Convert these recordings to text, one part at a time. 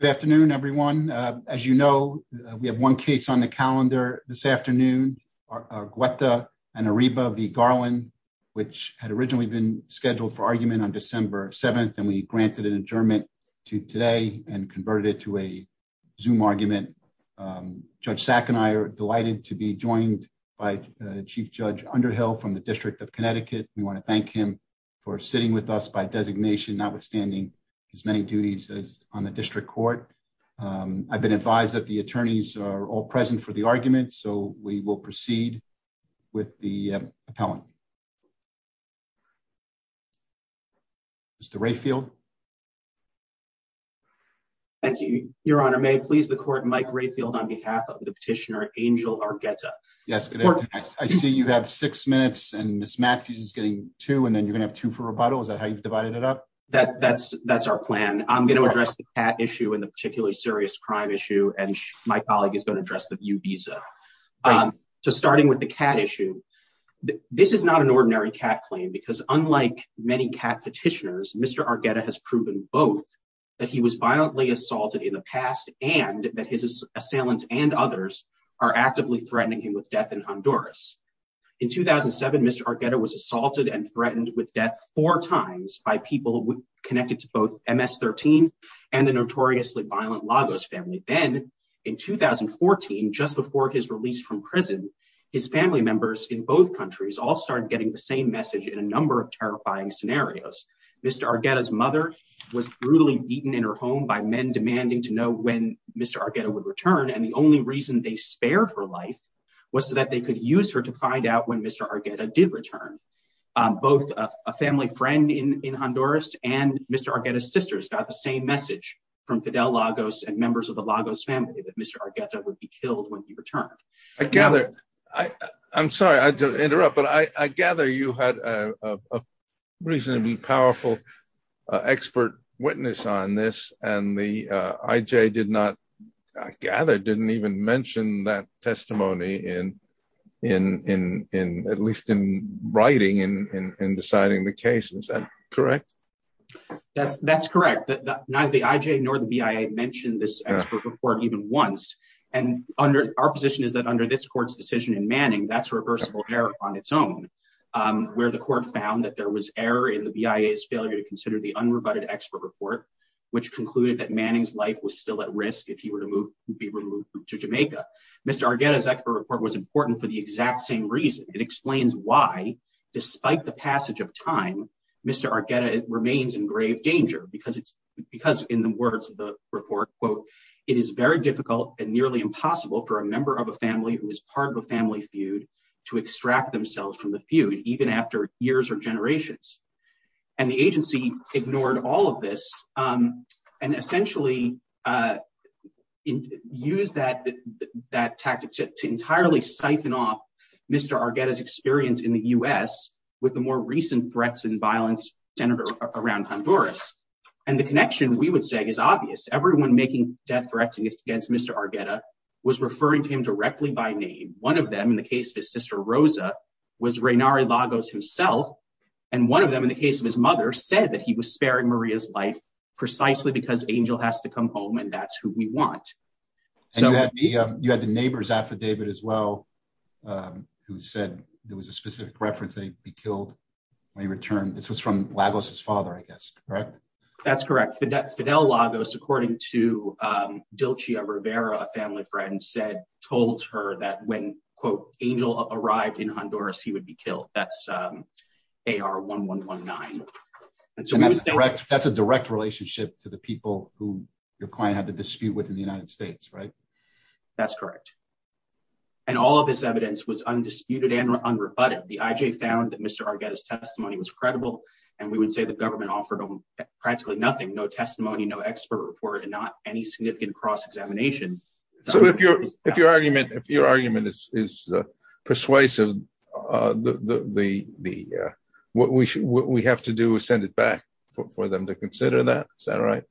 Good afternoon, everyone. As you know, we have one case on the calendar this afternoon are Guetta Anariba v Garland, which had originally been scheduled for argument on December 7th, and we granted an adjournment to today and converted it to a zoom argument. Um, Judge Sack and I are delighted to be joined by Chief Judge Underhill from the District of Connecticut. We want to thank him for sitting with us by designation, notwithstanding as many duties as on the district court. Um, I've been advised that the attorneys are all present for the argument, so we will proceed with the appellant. Mr Rayfield. Thank you, Your Honor. May please the court. Mike Rayfield on behalf of the petitioner Angel Argetta. Yes, I see you have six minutes and Miss Matthews is getting two and then you're gonna have to for rebuttal. Is that how I'm going to address the cat issue in the particularly serious crime issue? And my colleague is going to address the view visa. Um, so starting with the cat issue, this is not an ordinary cat claim because unlike many cat petitioners, Mr Argetta has proven both that he was violently assaulted in the past and that his assailants and others are actively threatening him with death in Honduras. In 2000 and seven, Mr Argetta was assaulted and 13 and the notoriously violent Lagos family. Then in 2014, just before his release from prison, his family members in both countries all started getting the same message in a number of terrifying scenarios. Mr Argetta's mother was brutally beaten in her home by men demanding to know when Mr Argetta would return. And the only reason they spare for life was so that they could use her to find out when Mr Argetta did return. Um, both a family friend in Honduras and Mr Argetta's sisters got the same message from Fidel Lagos and members of the Lagos family that Mr Argetta would be killed when he returned. I gather. I'm sorry I interrupt. But I gather you had a reasonably powerful expert witness on this. And the I. J. Did not gather, didn't even mention that testimony in, in, in, in at least in writing and deciding the case. Is that correct? That's, that's correct. Neither the I. J. Nor the B. I. A. Mentioned this expert report even once. And under our position is that under this court's decision in Manning, that's reversible error on its own. Um, where the court found that there was error in the B. I. A. Is failure to consider the unrebutted expert report, which concluded that Manning's life was still at risk if he were to move to be removed to Jamaica. Mr Argetta's expert report was important for the exact same reason. It explains why, despite the passage of time, Mr Argetta remains in grave danger because it's because in the words of the report, quote, it is very difficult and nearly impossible for a member of a family who is part of a family feud to extract themselves from the feud, even after years or generations. And the agency ignored all of this. Um, and Mr Argetta's experience in the U. S. With the more recent threats and violence center around Honduras and the connection we would say is obvious. Everyone making death threats against Mr Argetta was referring to him directly by name. One of them in the case of his sister Rosa was Raynari Lagos himself, and one of them in the case of his mother said that he was sparing Maria's life precisely because Angel has to come home and that's who we want. So you had the neighbor's affidavit as well. Um, who said there was a specific reference that he'd be killed when he returned. This was from Lagos, his father, I guess, correct? That's correct. Fidel Lagos, according to, um, Dilchia Rivera, a family friend said, told her that when, quote, Angel arrived in Honduras, he would be killed. That's um, they are 1119. And so that's correct. That's a direct relationship to the people who your within the United States, right? That's correct. And all of this evidence was undisputed and unrebutted. The I. J. Found that Mr Argetta's testimony was credible, and we would say the government offered practically nothing, no testimony, no expert report and not any significant cross examination. So if you're if your argument, if your argument is persuasive, uh, the what we should, what we have to do is send it back for them to consider that. Is that right?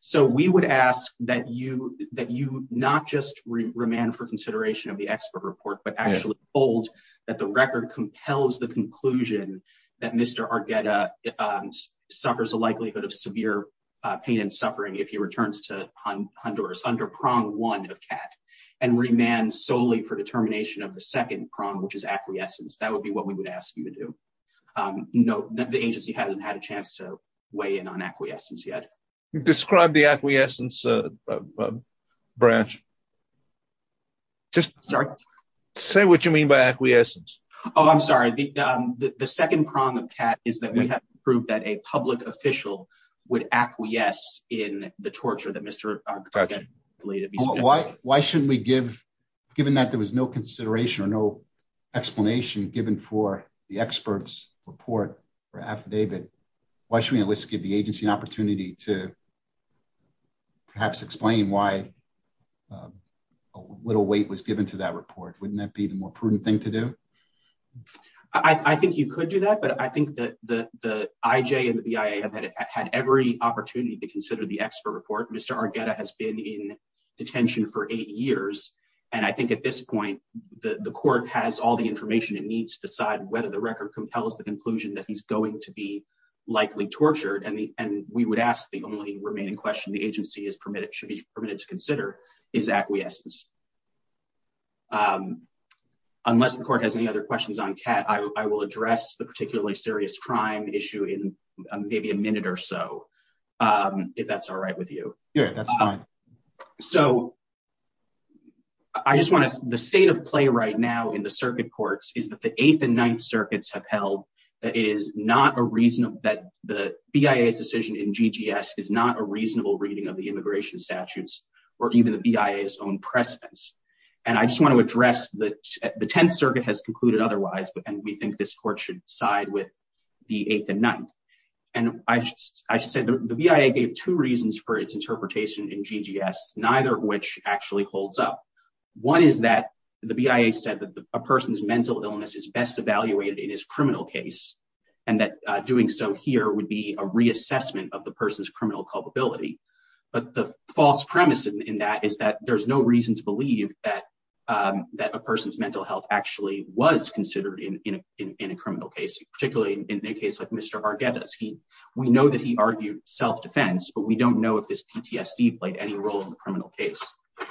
So we would ask that you that you not just remain for consideration of the expert report, but actually bold that the record compels the conclusion that Mr Argetta, um, suffers a likelihood of severe pain and suffering if he returns to Honduras under prong one of cat and remain solely for determination of the second prong, which is acquiescence. That would be what we would ask you to do. Um, no, the agency hasn't had a chance to weigh in on acquiescence yet. Describe the acquiescence, uh, branch. Just sorry. Say what you mean by acquiescence. Oh, I'm sorry. The second prong of cat is that we have proved that a public official would acquiesce in the torture that Mr Argetta related. Why? Why shouldn't we give given that there was no consideration or no explanation given for the experts report for affidavit? Why should we at least give the agency an opportunity to perhaps explain why? Um, a little weight was given to that report. Wouldn't that be the more prudent thing to do? I think you could do that. But I think that the I. J. And the B. I. A. Have had every opportunity to consider the expert report. Mr Argetta has been in detention for eight years, and I think at this point the court has all the information it needs to decide whether the record compels the conclusion that he's going to be likely tortured. And and we would ask the only remaining question the agency is permitted should be permitted to consider is acquiescence. Um, unless the court has any other questions on cat, I will address the particularly serious crime issue in maybe a minute or so. Um, if that's all right with you. Yeah, that's fine. So I just want to the state of play right now in the circuit courts is that the eighth and ninth circuits have held that it is not a reason that the B. I. A. S. Decision in G. G. S. Is not a reasonable reading of the immigration statutes or even the B. I. S. Own presence. And I just want to address that the 10th Circuit has concluded otherwise. And we think this court should side with the eighth and ninth. And I just I just said the B. I. A. Gave two reasons for its interpretation in G. G. S. Neither which actually holds up. One is that the B. I. A. Said that a person's mental illness is best evaluated in his criminal case, and that doing so here would be a reassessment of the person's criminal culpability. But the false premise in that is that there's no reason to believe that, um, that a person's mental health actually was considered in a criminal case, particularly in a case like Mr Vargas. We know that he argued self defense, but we don't know if this PTSD played any role in the criminal case.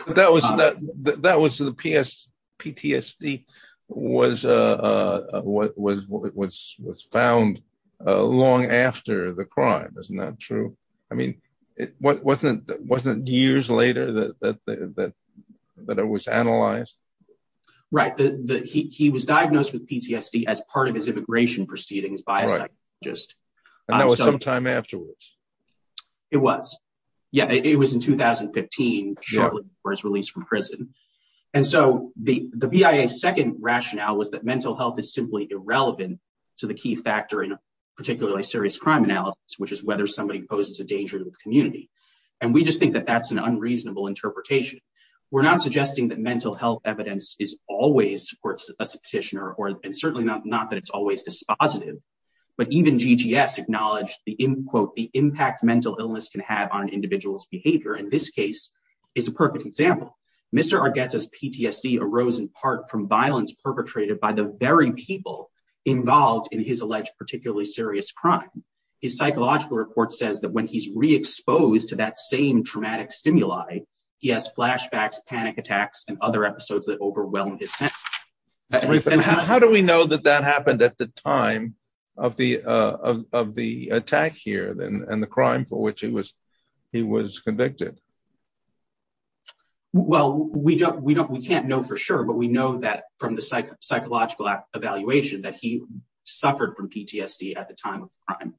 That was that that was the P. S. PTSD was, uh, was was was was found long after the crime is not true. I mean, it wasn't wasn't years later that that that that it was analyzed, right? He was diagnosed with PTSD as part of his immigration proceedings by just that was sometime afterwards. It was. Yeah, it was in 2015, shortly before his release from prison. And so the B. I. A. Second rationale was that mental health is simply irrelevant to the key factor in particularly serious crime analysis, which is whether somebody poses a danger to the community. And we just think that that's an unreasonable interpretation. We're not suggesting that mental health evidence is always supports a petitioner or and certainly not that it's always dispositive. But even G. G. S. Acknowledged the in quote the impact mental illness can have on individuals behavior in this case is a perfect example. Mr Argetta's PTSD arose in part from violence perpetrated by the very people involved in his alleged particularly serious crime. His psychological report says that when he's re exposed to that same traumatic stimuli, he has flashbacks, panic attacks and other episodes that overwhelmed his sense. How do we know that that happened at the time of the of the attack here and the crime for which he was, he was convicted? Well, we don't, we don't, we can't know for sure. But we know that from the psychological evaluation that he suffered from PTSD at the time of the crime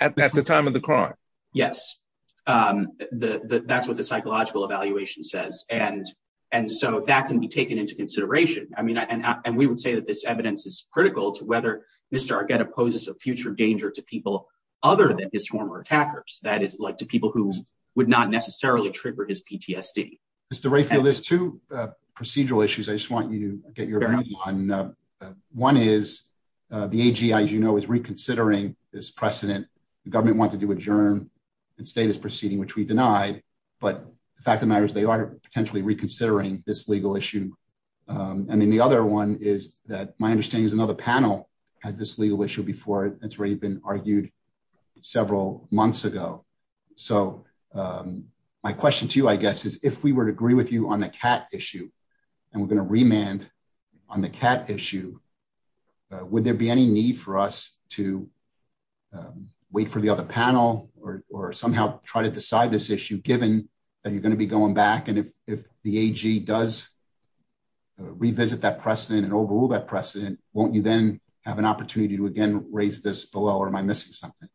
at the time of the crime. Yes. Um, that's what the psychological evaluation says. And and so that can be taken into consideration. I mean, and we would say that this evidence is critical to whether Mr Argetta poses a future danger to people other than his former attackers. That is like to people who would not necessarily trigger his PTSD. Mr Rayfield, there's two procedural issues. I just want you to get your one. One is the A. G. As you know, is reconsidering this precedent. The government wanted to adjourn and stay this proceeding, which we denied. But the fact of matters, they are potentially reconsidering this legal issue. Um, and then the other one is that my understanding is another panel has this legal issue before it's already been argued several months ago. So, um, my question to you, I guess, is if we were to agree with you on the cat issue and we're going to remand on the cat issue, would there be any need for us to wait for the other panel or somehow try to decide this issue given that you're going to be going back? And if the A. G. Does revisit that precedent and overrule that precedent, won't you then have an opportunity to again raise this below? Or am I missing something?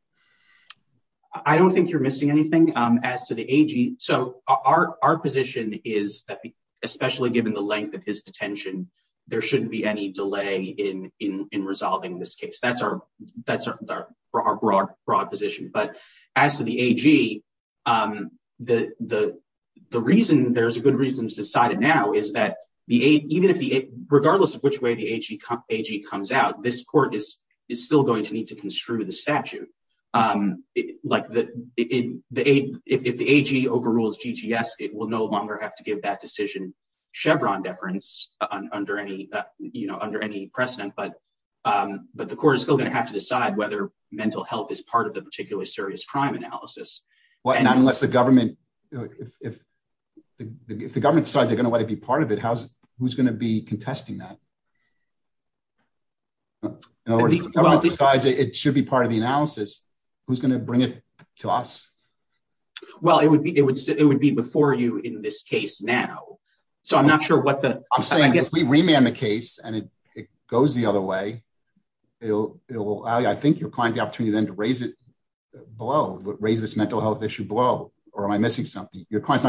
I don't think you're missing anything. Um, as to the A. G. So our our position is that especially given the length of his detention, there shouldn't be any delay in in resolving this case. That's our that's our broad, broad position. But as to the A. G. Um, the reason there's a good reason to decide it now is that the even if the regardless of which way the A. G. A. G. Comes out, this court is still going to need to construe the statute. Um, like the if the A. G. Overrules G. G. S. It will no longer have to give that decision Chevron deference under any, you know, under any precedent. But, um, but the court is still gonna have to decide whether mental health is part of the particularly serious crime analysis. Well, not unless the government if the government decides they're gonna let it be part of it. How's who's gonna be contesting that? In other words, decides it should be part of the analysis. Who's gonna bring it to us? Well, it would be. It would. It would be before you in this case now. So I'm not sure what the I'm saying is we remand the case and it goes the other way. It will. I think your client, the opportunity then to raise it below raise this mental health issue below. Or am I missing something? Your change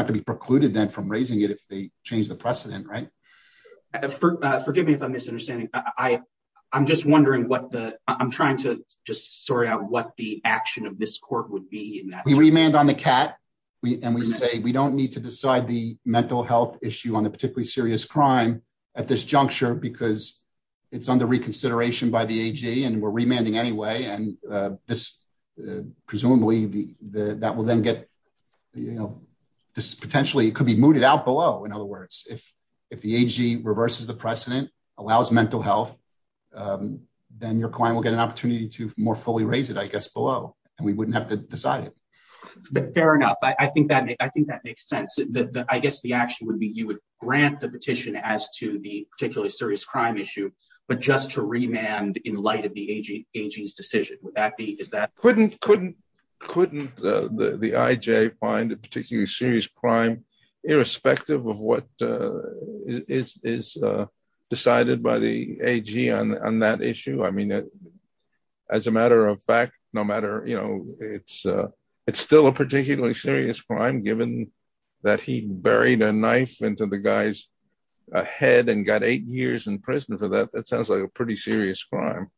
the precedent, right? Forgive me if I'm misunderstanding. I I'm just wondering what the I'm trying to just sort out what the action of this court would be. We remand on the cat, and we say we don't need to decide the mental health issue on a particularly serious crime at this juncture because it's under reconsideration by the A. G. And we're remanding anyway. And, uh, this presumably the that will then get, you know, this potentially could be mooted out below. In other words, if if the A. G. Reverses the precedent allows mental health, um, then your client will get an opportunity to more fully raise it, I guess, below, and we wouldn't have to decide it. But fair enough. I think that I think that makes sense that I guess the action would be you would grant the petition as to the particularly serious crime issue, but just to remand in light of the A. G. A. G. S. Decision. Would that be? Is that couldn't couldn't couldn't the I. J. Find a particularly serious crime irrespective of what is decided by the A. G. On on that issue. I mean, as a matter of fact, no matter you know, it's it's still a particularly serious crime, given that he buried a knife into the guys ahead and got eight years in prison for that. That sounds like a pretty serious crime.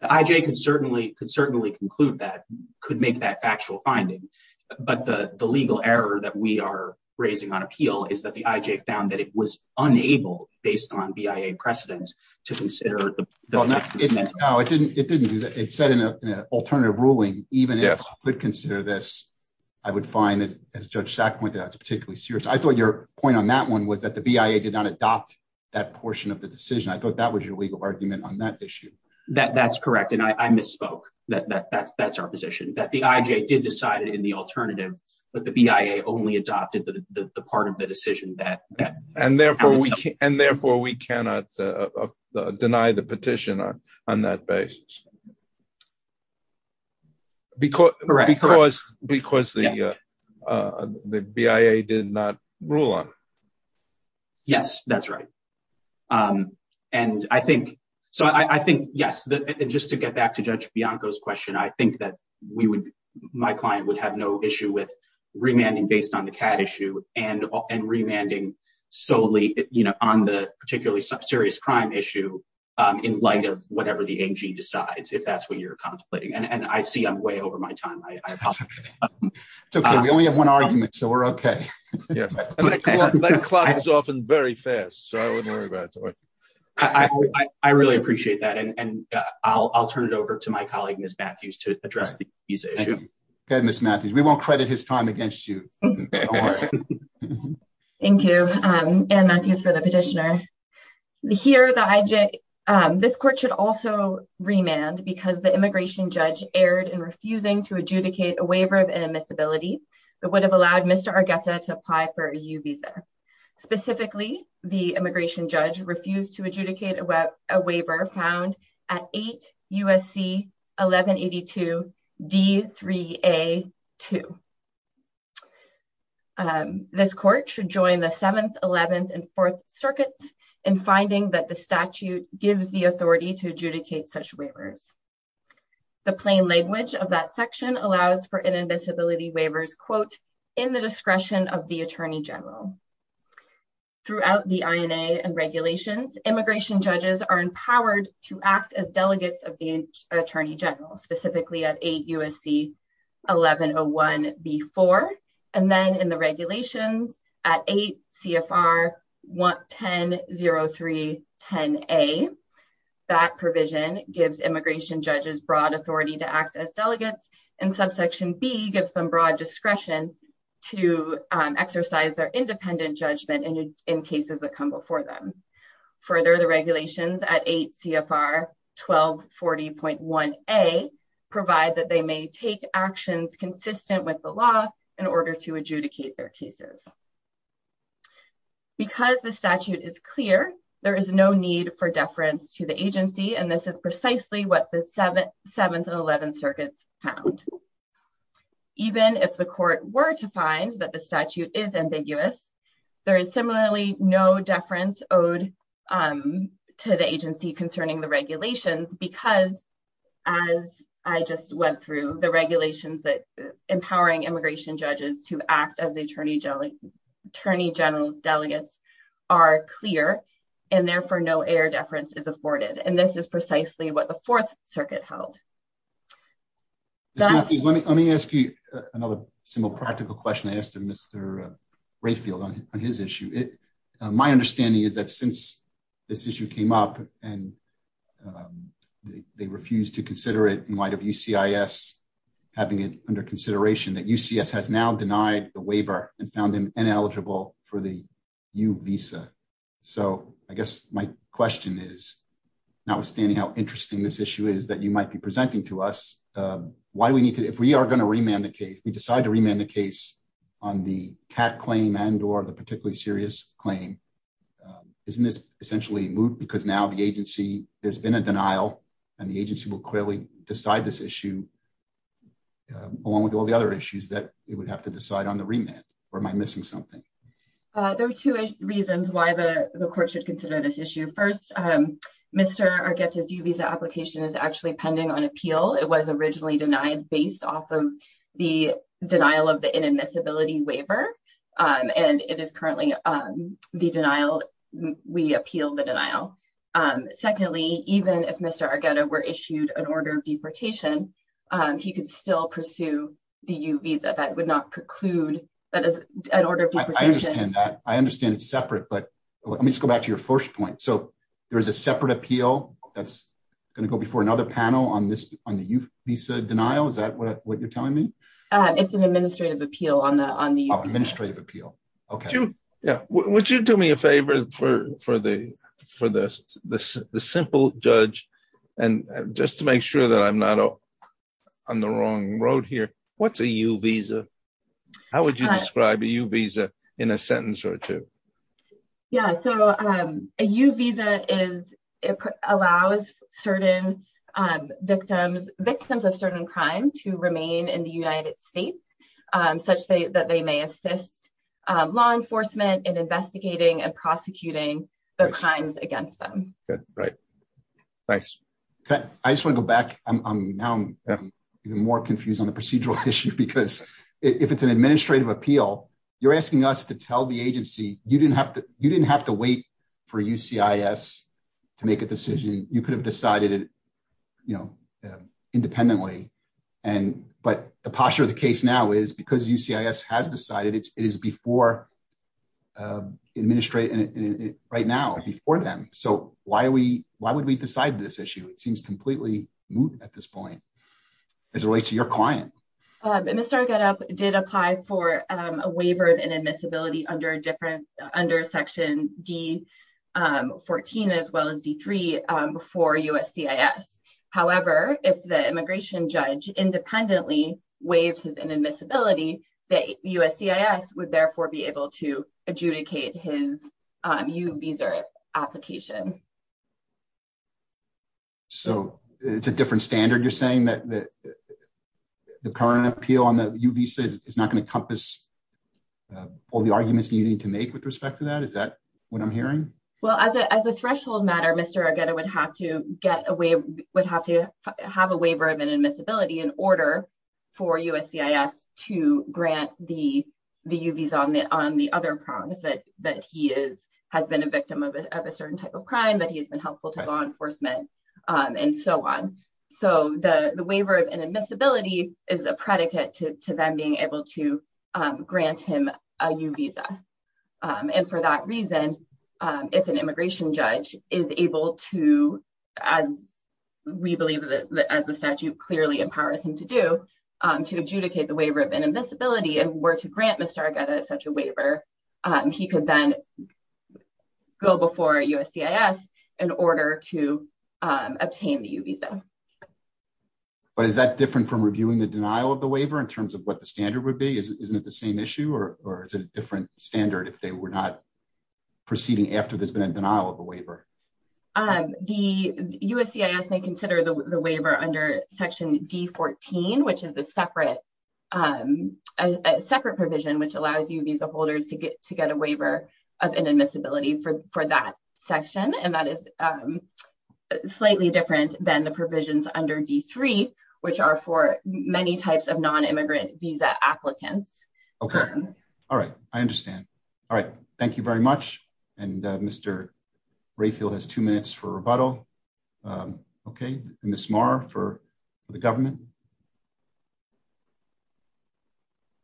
I. J. Can certainly conclude that could make that factual finding. But the legal error that we are raising on appeal is that the I. J. Found that it was unable based on B. I. A. Precedence to consider. No, it didn't. It didn't. It said in an alternative ruling, even if I could consider this, I would find that, as Judge Sack pointed out, it's particularly serious. I thought your point on that one was that the B. I. A. Did not adopt that portion of the decision. I thought that was your legal argument on that issue. That's correct. And I misspoke that that that's that's our position that the I. J. Did decide it in the alternative, but the B. I. A. Only adopted the part of the decision that and therefore and therefore we cannot deny the petition on on that because because because the B. I. A. Did not rule on. Yes, that's right. Um, and I think so. I think yes, just to get back to Judge Bianco's question, I think that we would my client would have no issue with remanding based on the cat issue and and remanding solely on the particularly serious crime issue in light of whatever the A. G. Decides if that's what you're contemplating. And I see I'm way over my time. I very fast. So I wouldn't worry about it. I really appreciate that. And I'll turn it over to my colleague, Miss Matthews, to address the visa issue. Good, Miss Matthews. We won't credit his time against you. Thank you. And Matthews for the petitioner here. The I. J. This court should also remand because the immigration judge erred in refusing to adjudicate a waiver of inadmissibility that would have allowed Mr Argetta to apply for a U visa Specifically, the immigration judge refused to adjudicate a web waiver found at eight U. S. C. 11 82 D. Three A. Two. Um, this court should join the 7th, 11th and 4th circuits in finding that the statute gives the authority to adjudicate such waivers. The plain language of that section allows for inadmissibility waivers, quote, in the throughout the I. N. A. And regulations. Immigration judges are empowered to act as delegates of the Attorney General, specifically at eight U. S. C. 1101 B. Four. And then in the regulations at eight C. F. R. 11003 10 A. That provision gives immigration judges broad authority to act as delegates, and subsection B gives them broad discretion to exercise their independent judgment in in cases that come before them. Further, the regulations at eight C. F. R. 12 40.1 A. Provide that they may take actions consistent with the law in order to adjudicate their cases. Because the statute is clear, there is no need for deference to the agency. And this is precisely what the 7th, 7th and 11 circuits found. Even if the court were to find that the statute is ambiguous, there is similarly no deference owed, um, to the agency concerning the regulations because as I just went through the regulations that empowering immigration judges to act as the Attorney General, Attorney General's delegates are clear and therefore no air deference is afforded. And this is precisely what the let me let me ask you another similar practical question. I asked him Mr Rayfield on his issue. It my understanding is that since this issue came up and, um, they refused to consider it in light of U. C. I. S. Having it under consideration that U. C. S. Has now denied the waiver and found him ineligible for the U visa. So I guess my question is notwithstanding how interesting this issue is that you might be presenting to us. Why do we if we are going to remand the case, we decide to remand the case on the cat claim and or the particularly serious claim. Um, isn't this essentially moved? Because now the agency there's been a denial and the agency will clearly decide this issue along with all the other issues that it would have to decide on the remand. Where am I missing something? Uh, there are two reasons why the court should consider this issue. First, um, Mr gets his U visa application is actually pending on appeal. It was originally denied based off of the denial of the inadmissibility waiver. Um, and it is currently, um, the denial. We appeal the denial. Um, secondly, even if Mr Argetta were issued an order of deportation, he could still pursue the U visa. That would not preclude that is an order. I understand that. I understand it's separate, but let me go back to your first point. So there is a separate appeal that's gonna go before another panel on this on the visa denial. Is that what you're telling me? It's an administrative appeal on the on the administrative appeal. Okay. Yeah. Would you do me a favor for for the for the simple judge and just to make sure that I'm not on the wrong road here. What's a U visa? How would you describe a U visa in a victims of certain crime to remain in the United States? Um, such that they may assist law enforcement in investigating and prosecuting the crimes against them. Right. Thanks. I just wanna go back. I'm now even more confused on the procedural issue because if it's an administrative appeal, you're asking us to tell the agency you didn't have to. You didn't have to wait for U. C. I. S. To make a decision. You could have decided, you know, independently. And but the posture of the case now is because U. C. I. S. has decided it is before, uh, administrate right now before them. So why are we? Why would we decide this issue? It seems completely moved at this point as relates to your client. Uh, Mr. Get up did apply for a waiver of inadmissibility under different under Section D. Um, 14 as well as D before U. S. C. I. S. However, if the immigration judge independently waived his inadmissibility that U. S. C. I. S. Would therefore be able to adjudicate his, um, you visa application. So it's a different standard. You're saying that the current appeal on the U. B. Says it's not gonna compass all the arguments you need to make with respect to that. Is that what I'm hearing? Well, as a threshold matter, Mr Argetta would have to get away, would have to have a waiver of inadmissibility in order for U. S. C. I. S. To grant the U. B's on the on the other problems that that he is has been a victim of a certain type of crime that he has been helpful to law enforcement on DSO on. So the waiver of inadmissibility is a predicate to them being able to grant him a U visa on for that reason. If an to as we believe that as the statute clearly empowers him to do to adjudicate the waiver of inadmissibility and were to grant Mr Argetta such a waiver, he could then go before U. S. C. I. S. In order to obtain the U visa. But is that different from reviewing the denial of the waiver in terms of what the standard would be? Isn't it the same issue or or it's a different standard if they were not proceeding after there's been a denial of the waiver? Um, the U. S. C. I. S. May consider the waiver under Section D 14, which is a separate, um, separate provision which allows you visa holders to get to get a waiver of inadmissibility for for that section. And that is, um, slightly different than the provisions under D three, which are for many types of non immigrant visa applicants. Okay. All right. I understand. All right. Thank you very much. And Mr Rayfield has two minutes for rebuttal. Um, okay. And the smart for the government.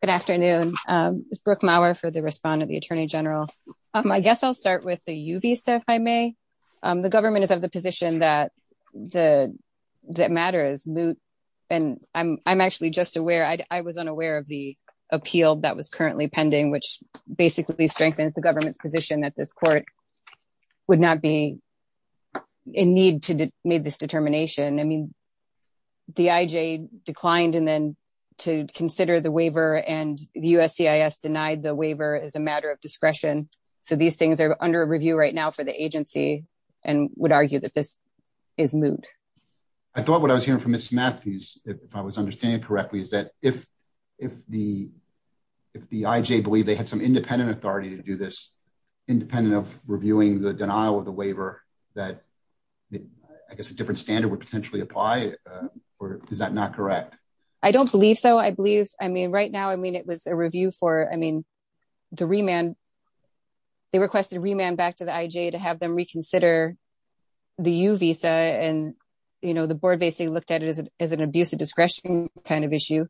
Good afternoon. Um, it's Brooke Mauer for the respondent, the attorney general. Um, I guess I'll start with the U. V. Stuff. I may. Um, the government is of the position that the matter is moot. And I'm actually just aware I was unaware of the appeal that was currently pending, which basically strengthens the government's position that this court would not be in need to made this determination. I mean, the I. J. Declined and then to consider the waiver and the U. S. C. I. S. Denied the waiver is a matter of discretion. So these things are under review right now for the agency and would argue that this is moot. I thought what I was hearing from Miss Matthews, if I was understanding correctly, is that if if the if the I. J. Believe they had some independent authority to do this independent of reviewing the denial of the waiver that I guess a different standard would potentially apply. Or is that not correct? I don't believe so. I believe. I mean, right now, I mean, it was a review for, I mean, the remand they requested remand back to the I. J. To have them reconsider the U. V. S. And, you know, the board basically looked at it as an abuse of discretion kind of issue.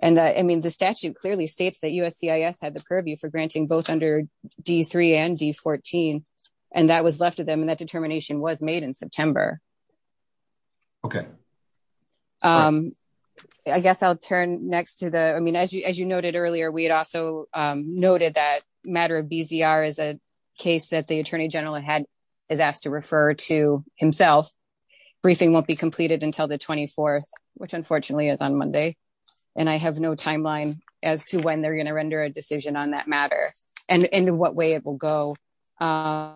And I mean, the statute clearly states that U. S. C. I. S. Had the purview for granting both under D three and D 14. And that was left to them. And that determination was made in September. Okay. Um, I guess I'll turn next to the I mean, as you as you noted earlier, we had also noted that matter of B. Z. R. Is a case that the attorney general had is asked to refer to himself. Briefing won't be completed until the 24th, which unfortunately is on Monday. And I have no timeline as to when they're going to render a decision on that matter and in what way it will go. Um,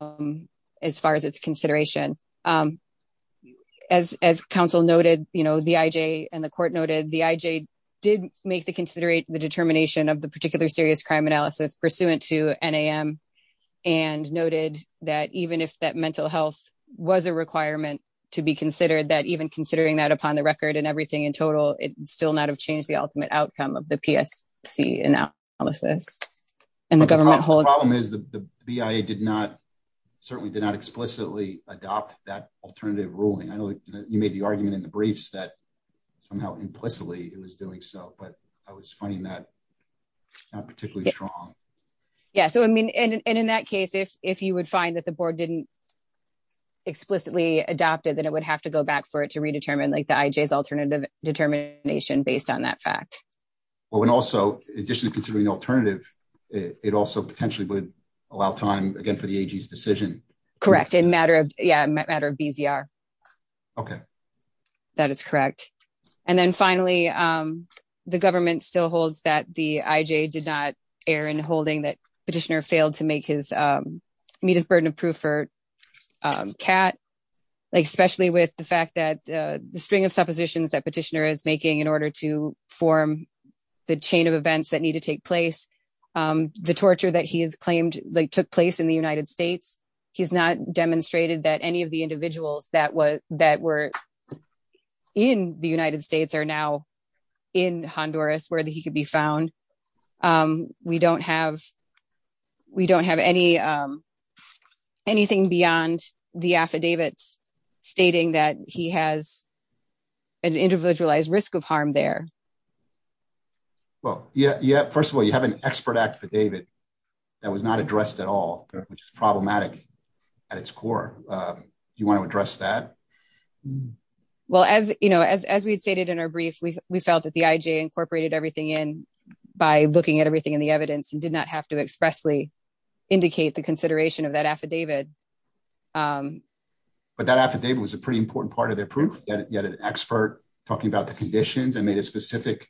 um, as far as it's consideration, um, as, as counsel noted, you know, the I. J. And the court noted the I. J. Did make the considerate the determination of the particular serious crime analysis pursuant to N. A. M. And noted that even if that mental health was a requirement to be considered, that even considering that upon the record and everything in total, it still not have changed the ultimate outcome of the P. S. C. Analysis. And the government hold problem is the B. I. A. Did not certainly did not explicitly adopt that alternative ruling. I know you made the argument in the briefs that somehow implicitly it was doing so. But I was finding that not particularly strong. Yeah. So I mean, and in that case, if you would find that the board didn't explicitly adopted, then it would have to go back for it to redetermine like the I. J. S. Alternative determination based on that fact. Well, when also additionally considering alternative, it also potentially would allow time again for the decision. Correct. In matter of matter of B. Z. R. Okay, that is correct. And then finally, um, the government still holds that the I. J. Did not Aaron holding that petitioner failed to make his, um, meet his burden of proof for, um, cat, especially with the fact that the string of suppositions that petitioner is making in order to form the chain of events that need to take place. Um, the torture that he has claimed they took place in the United States. He's not demonstrated that any of the individuals that was that were in the United States are now in Honduras, where he could be anything beyond the affidavits stating that he has an individualized risk of harm there. Well, yeah. Yeah. First of all, you have an expert act for David that was not addressed at all, which is problematic at its core. You want to address that? Well, as you know, as as we had stated in our brief, we felt that the I. J. Incorporated everything in by looking at everything in the evidence and did not have to expressly indicate the consideration of that affidavit. Um, but that affidavit was a pretty important part of their proof that yet an expert talking about the conditions and made a specific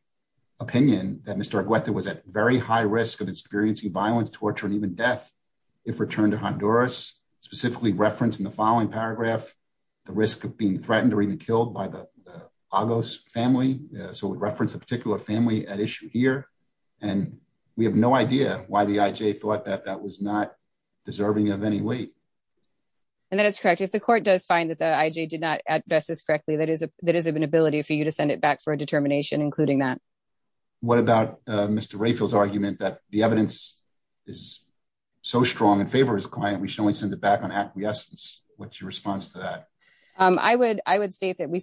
opinion that Mr Agueta was at very high risk of experiencing violence, torture and even death. If returned to Honduras specifically referenced in the following paragraph, the risk of being threatened or even killed by the August family. So would reference a particular family at issue here, and we have no idea why the I. J. Thought that that was not deserving of any weight. And that is correct. If the court does find that the I. J. Did not address this correctly, that is, that is of an ability for you to send it back for a determination, including that. What about Mr Rayfield's argument that the evidence is so strong in favor of his client? We should only send it back on acquiescence. What's your response to that? I would I would state that we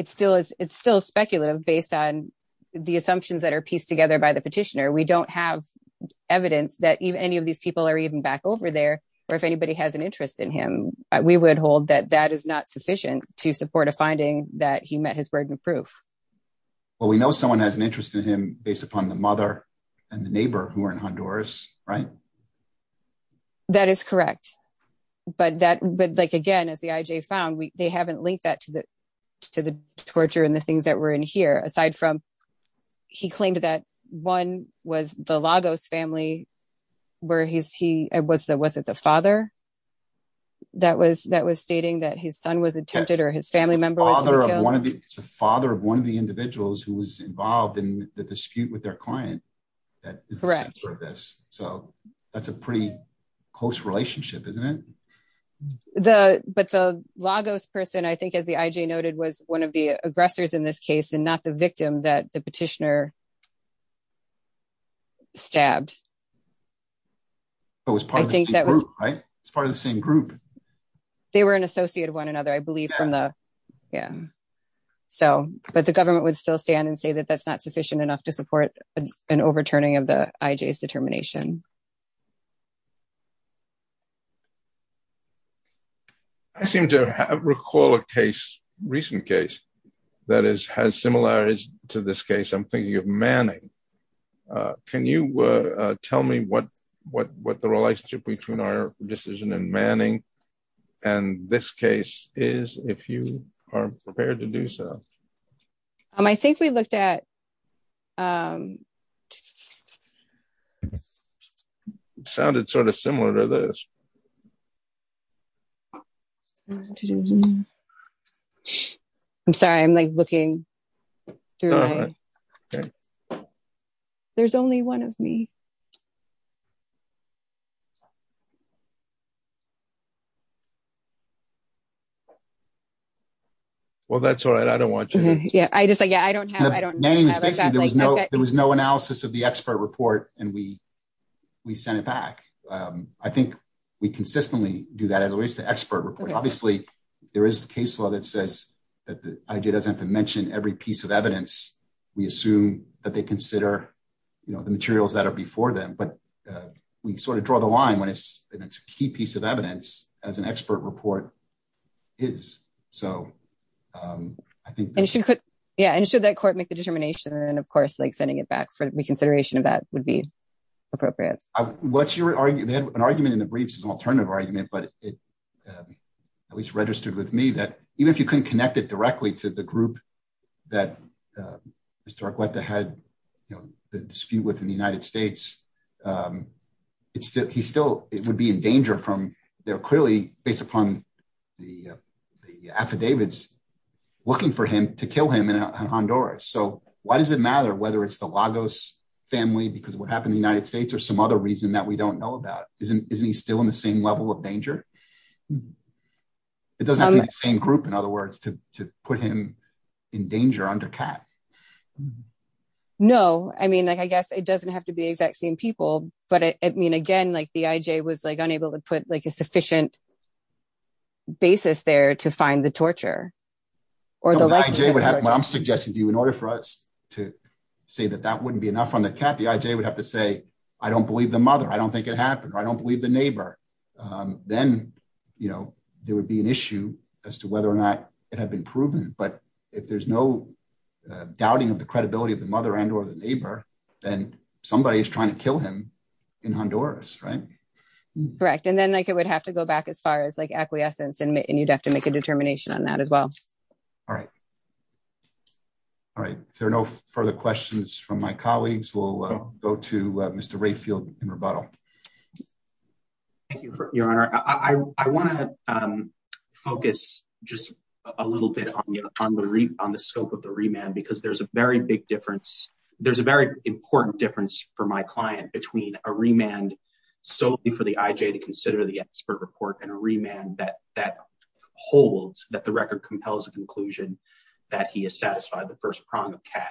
it's still speculative based on the assumptions that are pieced together by the petitioner. We don't have evidence that any of these people are even back over there, or if anybody has an interest in him, we would hold that that is not sufficient to support a finding that he met his burden of proof. Well, we know someone has an interest in him based upon the mother and the neighbor who are in Honduras, right? That is correct. But that but like again, as the I. J. Found they haven't linked that to the to the torture and the things that were in here. Aside from he claimed that one was the Lagos family where he was. That wasn't the father. That was that was stating that his son was attempted or his family member, the father of one of the individuals who was involved in the dispute with their client. That is the center of this. So that's a pretty close relationship, isn't it? The but the Lagos person, I think, as the I. J. noted, was one of the aggressors in this case and not the victim that the petitioner stabbed. I think that was right. It's part of the same group. They were an associate of one another, I believe from the Yeah. So but the government would still stand and say that that's not sufficient enough to support an overturning of the I. J. S. Determination. Yeah. I seem to recall a case recent case that is has similarities to this case. I'm thinking of Manning. Uh, can you tell me what what what the relationship between our decision and Manning and this case is if you are prepared to do so? Um, I think we looked at, um, it sounded sort of similar to this. To do. I'm sorry. I'm like looking through. There's only one of me. Well, that's all right. I don't want you. Yeah, I just like, Yeah, I don't have. I don't know. There was no. There was no analysis of the expert report, and we we sent it back. I think we consistently do that. As always, the expert report. Obviously, there is the case law that says that the idea doesn't have to mention every piece of evidence. We assume that they consider, you know, the materials that are before them. But we sort of draw the line when it's a key piece of evidence as an expert report is so, um, I think, and yeah, and should that court make the determination and, of course, like sending it back for reconsideration of that would be appropriate. What's your argument? They had an argument in the briefs, an alternative argument, but it at least registered with me that even if you couldn't connect it directly to the group that, uh, Mr Agueta had, you know, the dispute within the United States. Um, it's still he's still it would be in danger from their clearly based upon the affidavits looking for him to kill him in Honduras. So why does it matter whether it's the Lagos family? Because what happened in the United States or some other reason that we don't know about isn't isn't he still in the same level of danger? It doesn't have the same group, in other words, to put him in danger under cap. No, I mean, I guess it doesn't have to be exact same people. But I mean, again, like the I. J. Was like unable to put like a sufficient basis there to find the torture or the I. J. What I'm suggesting to you in order for us to say that that wouldn't be enough on the cap, the I. J. Would have to say, I don't believe the mother. I don't think it happened. I don't believe the neighbor. Um, then, you know, there would be an issue as to whether or not it had been proven. But if there's no doubting of the credibility of the mother and or the neighbor, then somebody is trying to doors, right? Correct. And then, like, it would have to go back as far as, like, acquiescence. And you'd have to make a determination on that as well. All right. All right. There are no further questions from my colleagues will go to Mr Rayfield in rebuttal. Thank you, Your Honor. I want to, um, focus just a little bit on the on the scope of the remand because there's a very big difference. There's a very solely for the I. J. To consider the expert report and a remand that that holds that the record compels a conclusion that he is satisfied the first prong of cat.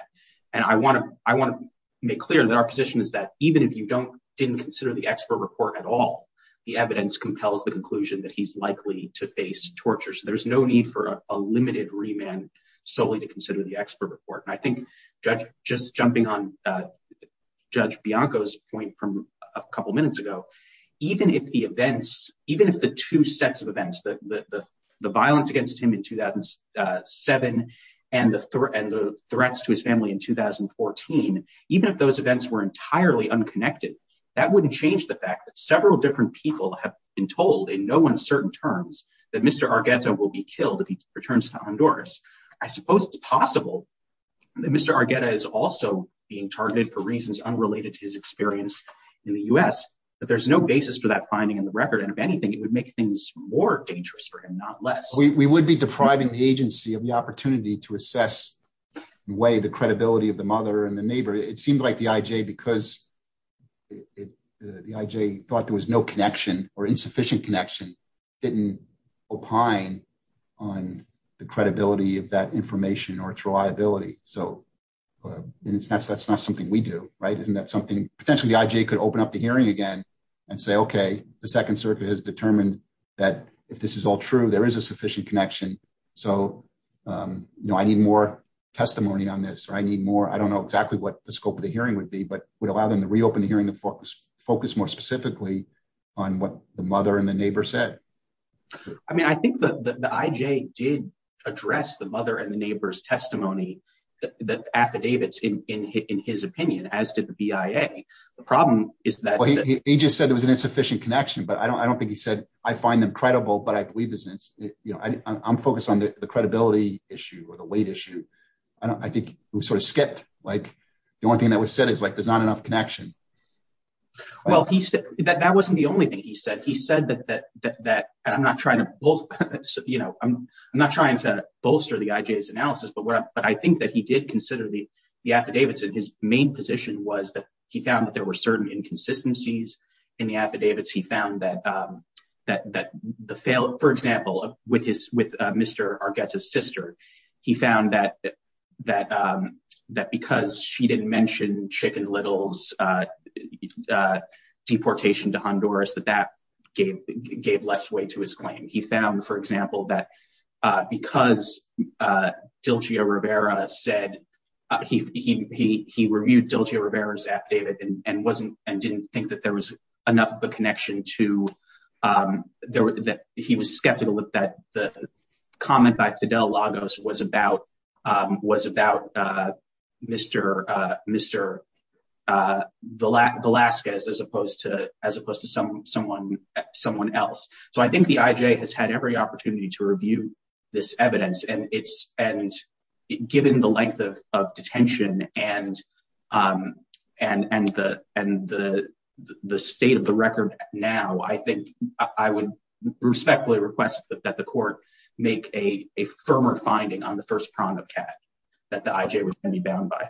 And I want to I want to make clear that our position is that even if you don't didn't consider the expert report at all, the evidence compels the conclusion that he's likely to face torture. So there's no need for a limited remand solely to consider the expert report. I think just jumping on, uh, Judge Bianco's point from a couple minutes ago, even if the events even if the two sets of events that the violence against him in two thousand seven and the end of threats to his family in 2014, even if those events were entirely unconnected, that wouldn't change the fact that several different people have been told in no one certain terms that Mr Argetto will be killed if he returns to Honduras. I Mr Argetta is also being targeted for reasons unrelated to his experience in the U. S. But there's no basis for that finding in the record. And if anything, it would make things more dangerous for him, not less. We would be depriving the agency of the opportunity to assess way the credibility of the mother and the neighbor. It seemed like the I. J. Because the I. J. Thought there was no connection or insufficient connection didn't opine on the credibility of that information or its reliability. So that's that's not something we do. Right? Isn't that something potentially the I. J. Could open up the hearing again and say, Okay, the Second Circuit has determined that if this is all true, there is a sufficient connection. So, um, you know, I need more testimony on this. I need more. I don't know exactly what the scope of the hearing would be, but would allow them to reopen hearing the focus more specifically on what the mother and the neighbor said. I mean, I think the I. J. Did address the mother and the neighbor's testimony that affidavits in his opinion, as did the B. I. A. The problem is that he just said there was an insufficient connection, but I don't I don't think he said I find them credible, but I believe business. You know, I'm focused on the credibility issue or the weight issue. I think we sort of skipped like the one thing that was said is like there's not enough connection. Well, he said that that wasn't the only thing he said. He said that I'm not trying to both. You know, I'm not trying to bolster the I. J.'s analysis, but what? But I think that he did consider the affidavits in his main position was that he found that there were certain inconsistencies in the affidavits. He found that, um, that that the failed, for example, with his with Mr Argetta's sister, he found that that, um, that because she didn't mention chicken littles, uh, uh, deportation to Honduras, that gave gave less way to his claim. He found, for example, that because, uh, Dilgio Rivera said he he he reviewed Dilgio Rivera's affidavit and wasn't and didn't think that there was enough of a connection to, um, that he was skeptical that that the comment by Fidel Lagos was about was about Mr Mr, uh, the lack of Alaska's as opposed to as opposed to some someone, someone else. So I think the I. J. Has had every opportunity to review this evidence and it's and given the length of detention and, um, and and the and the the state of the record. Now, I think I would respectfully request that the court make a firmer finding on the first prong of cat that the I. J. Was any bound by.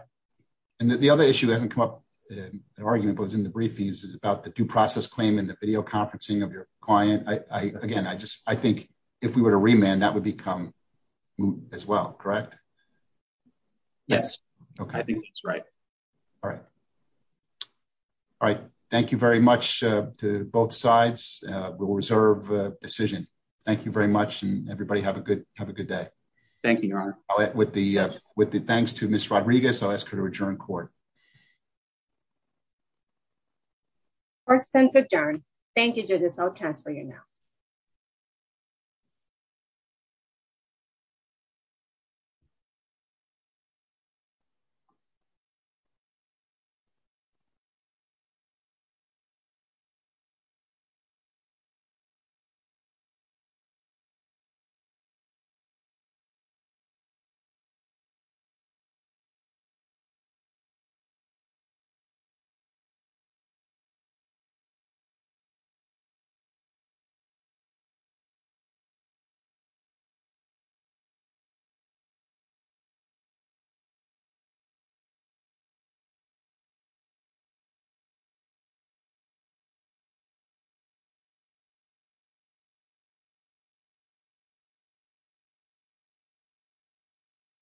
And the other issue hasn't come up. The argument was in the briefings about the due process claim in the video conferencing of your client. I again, I just I think if we were to remand, that would become moot as well. Correct? Yes. Okay. I think that's right. All right. All right. Thank you very much to both sides. We'll reserve decision. Thank you very much. And everybody have a good have a good day. Thank you, Your Rodriguez. I'll ask her to adjourn court or since adjourned. Thank you to this. I'll transfer you now.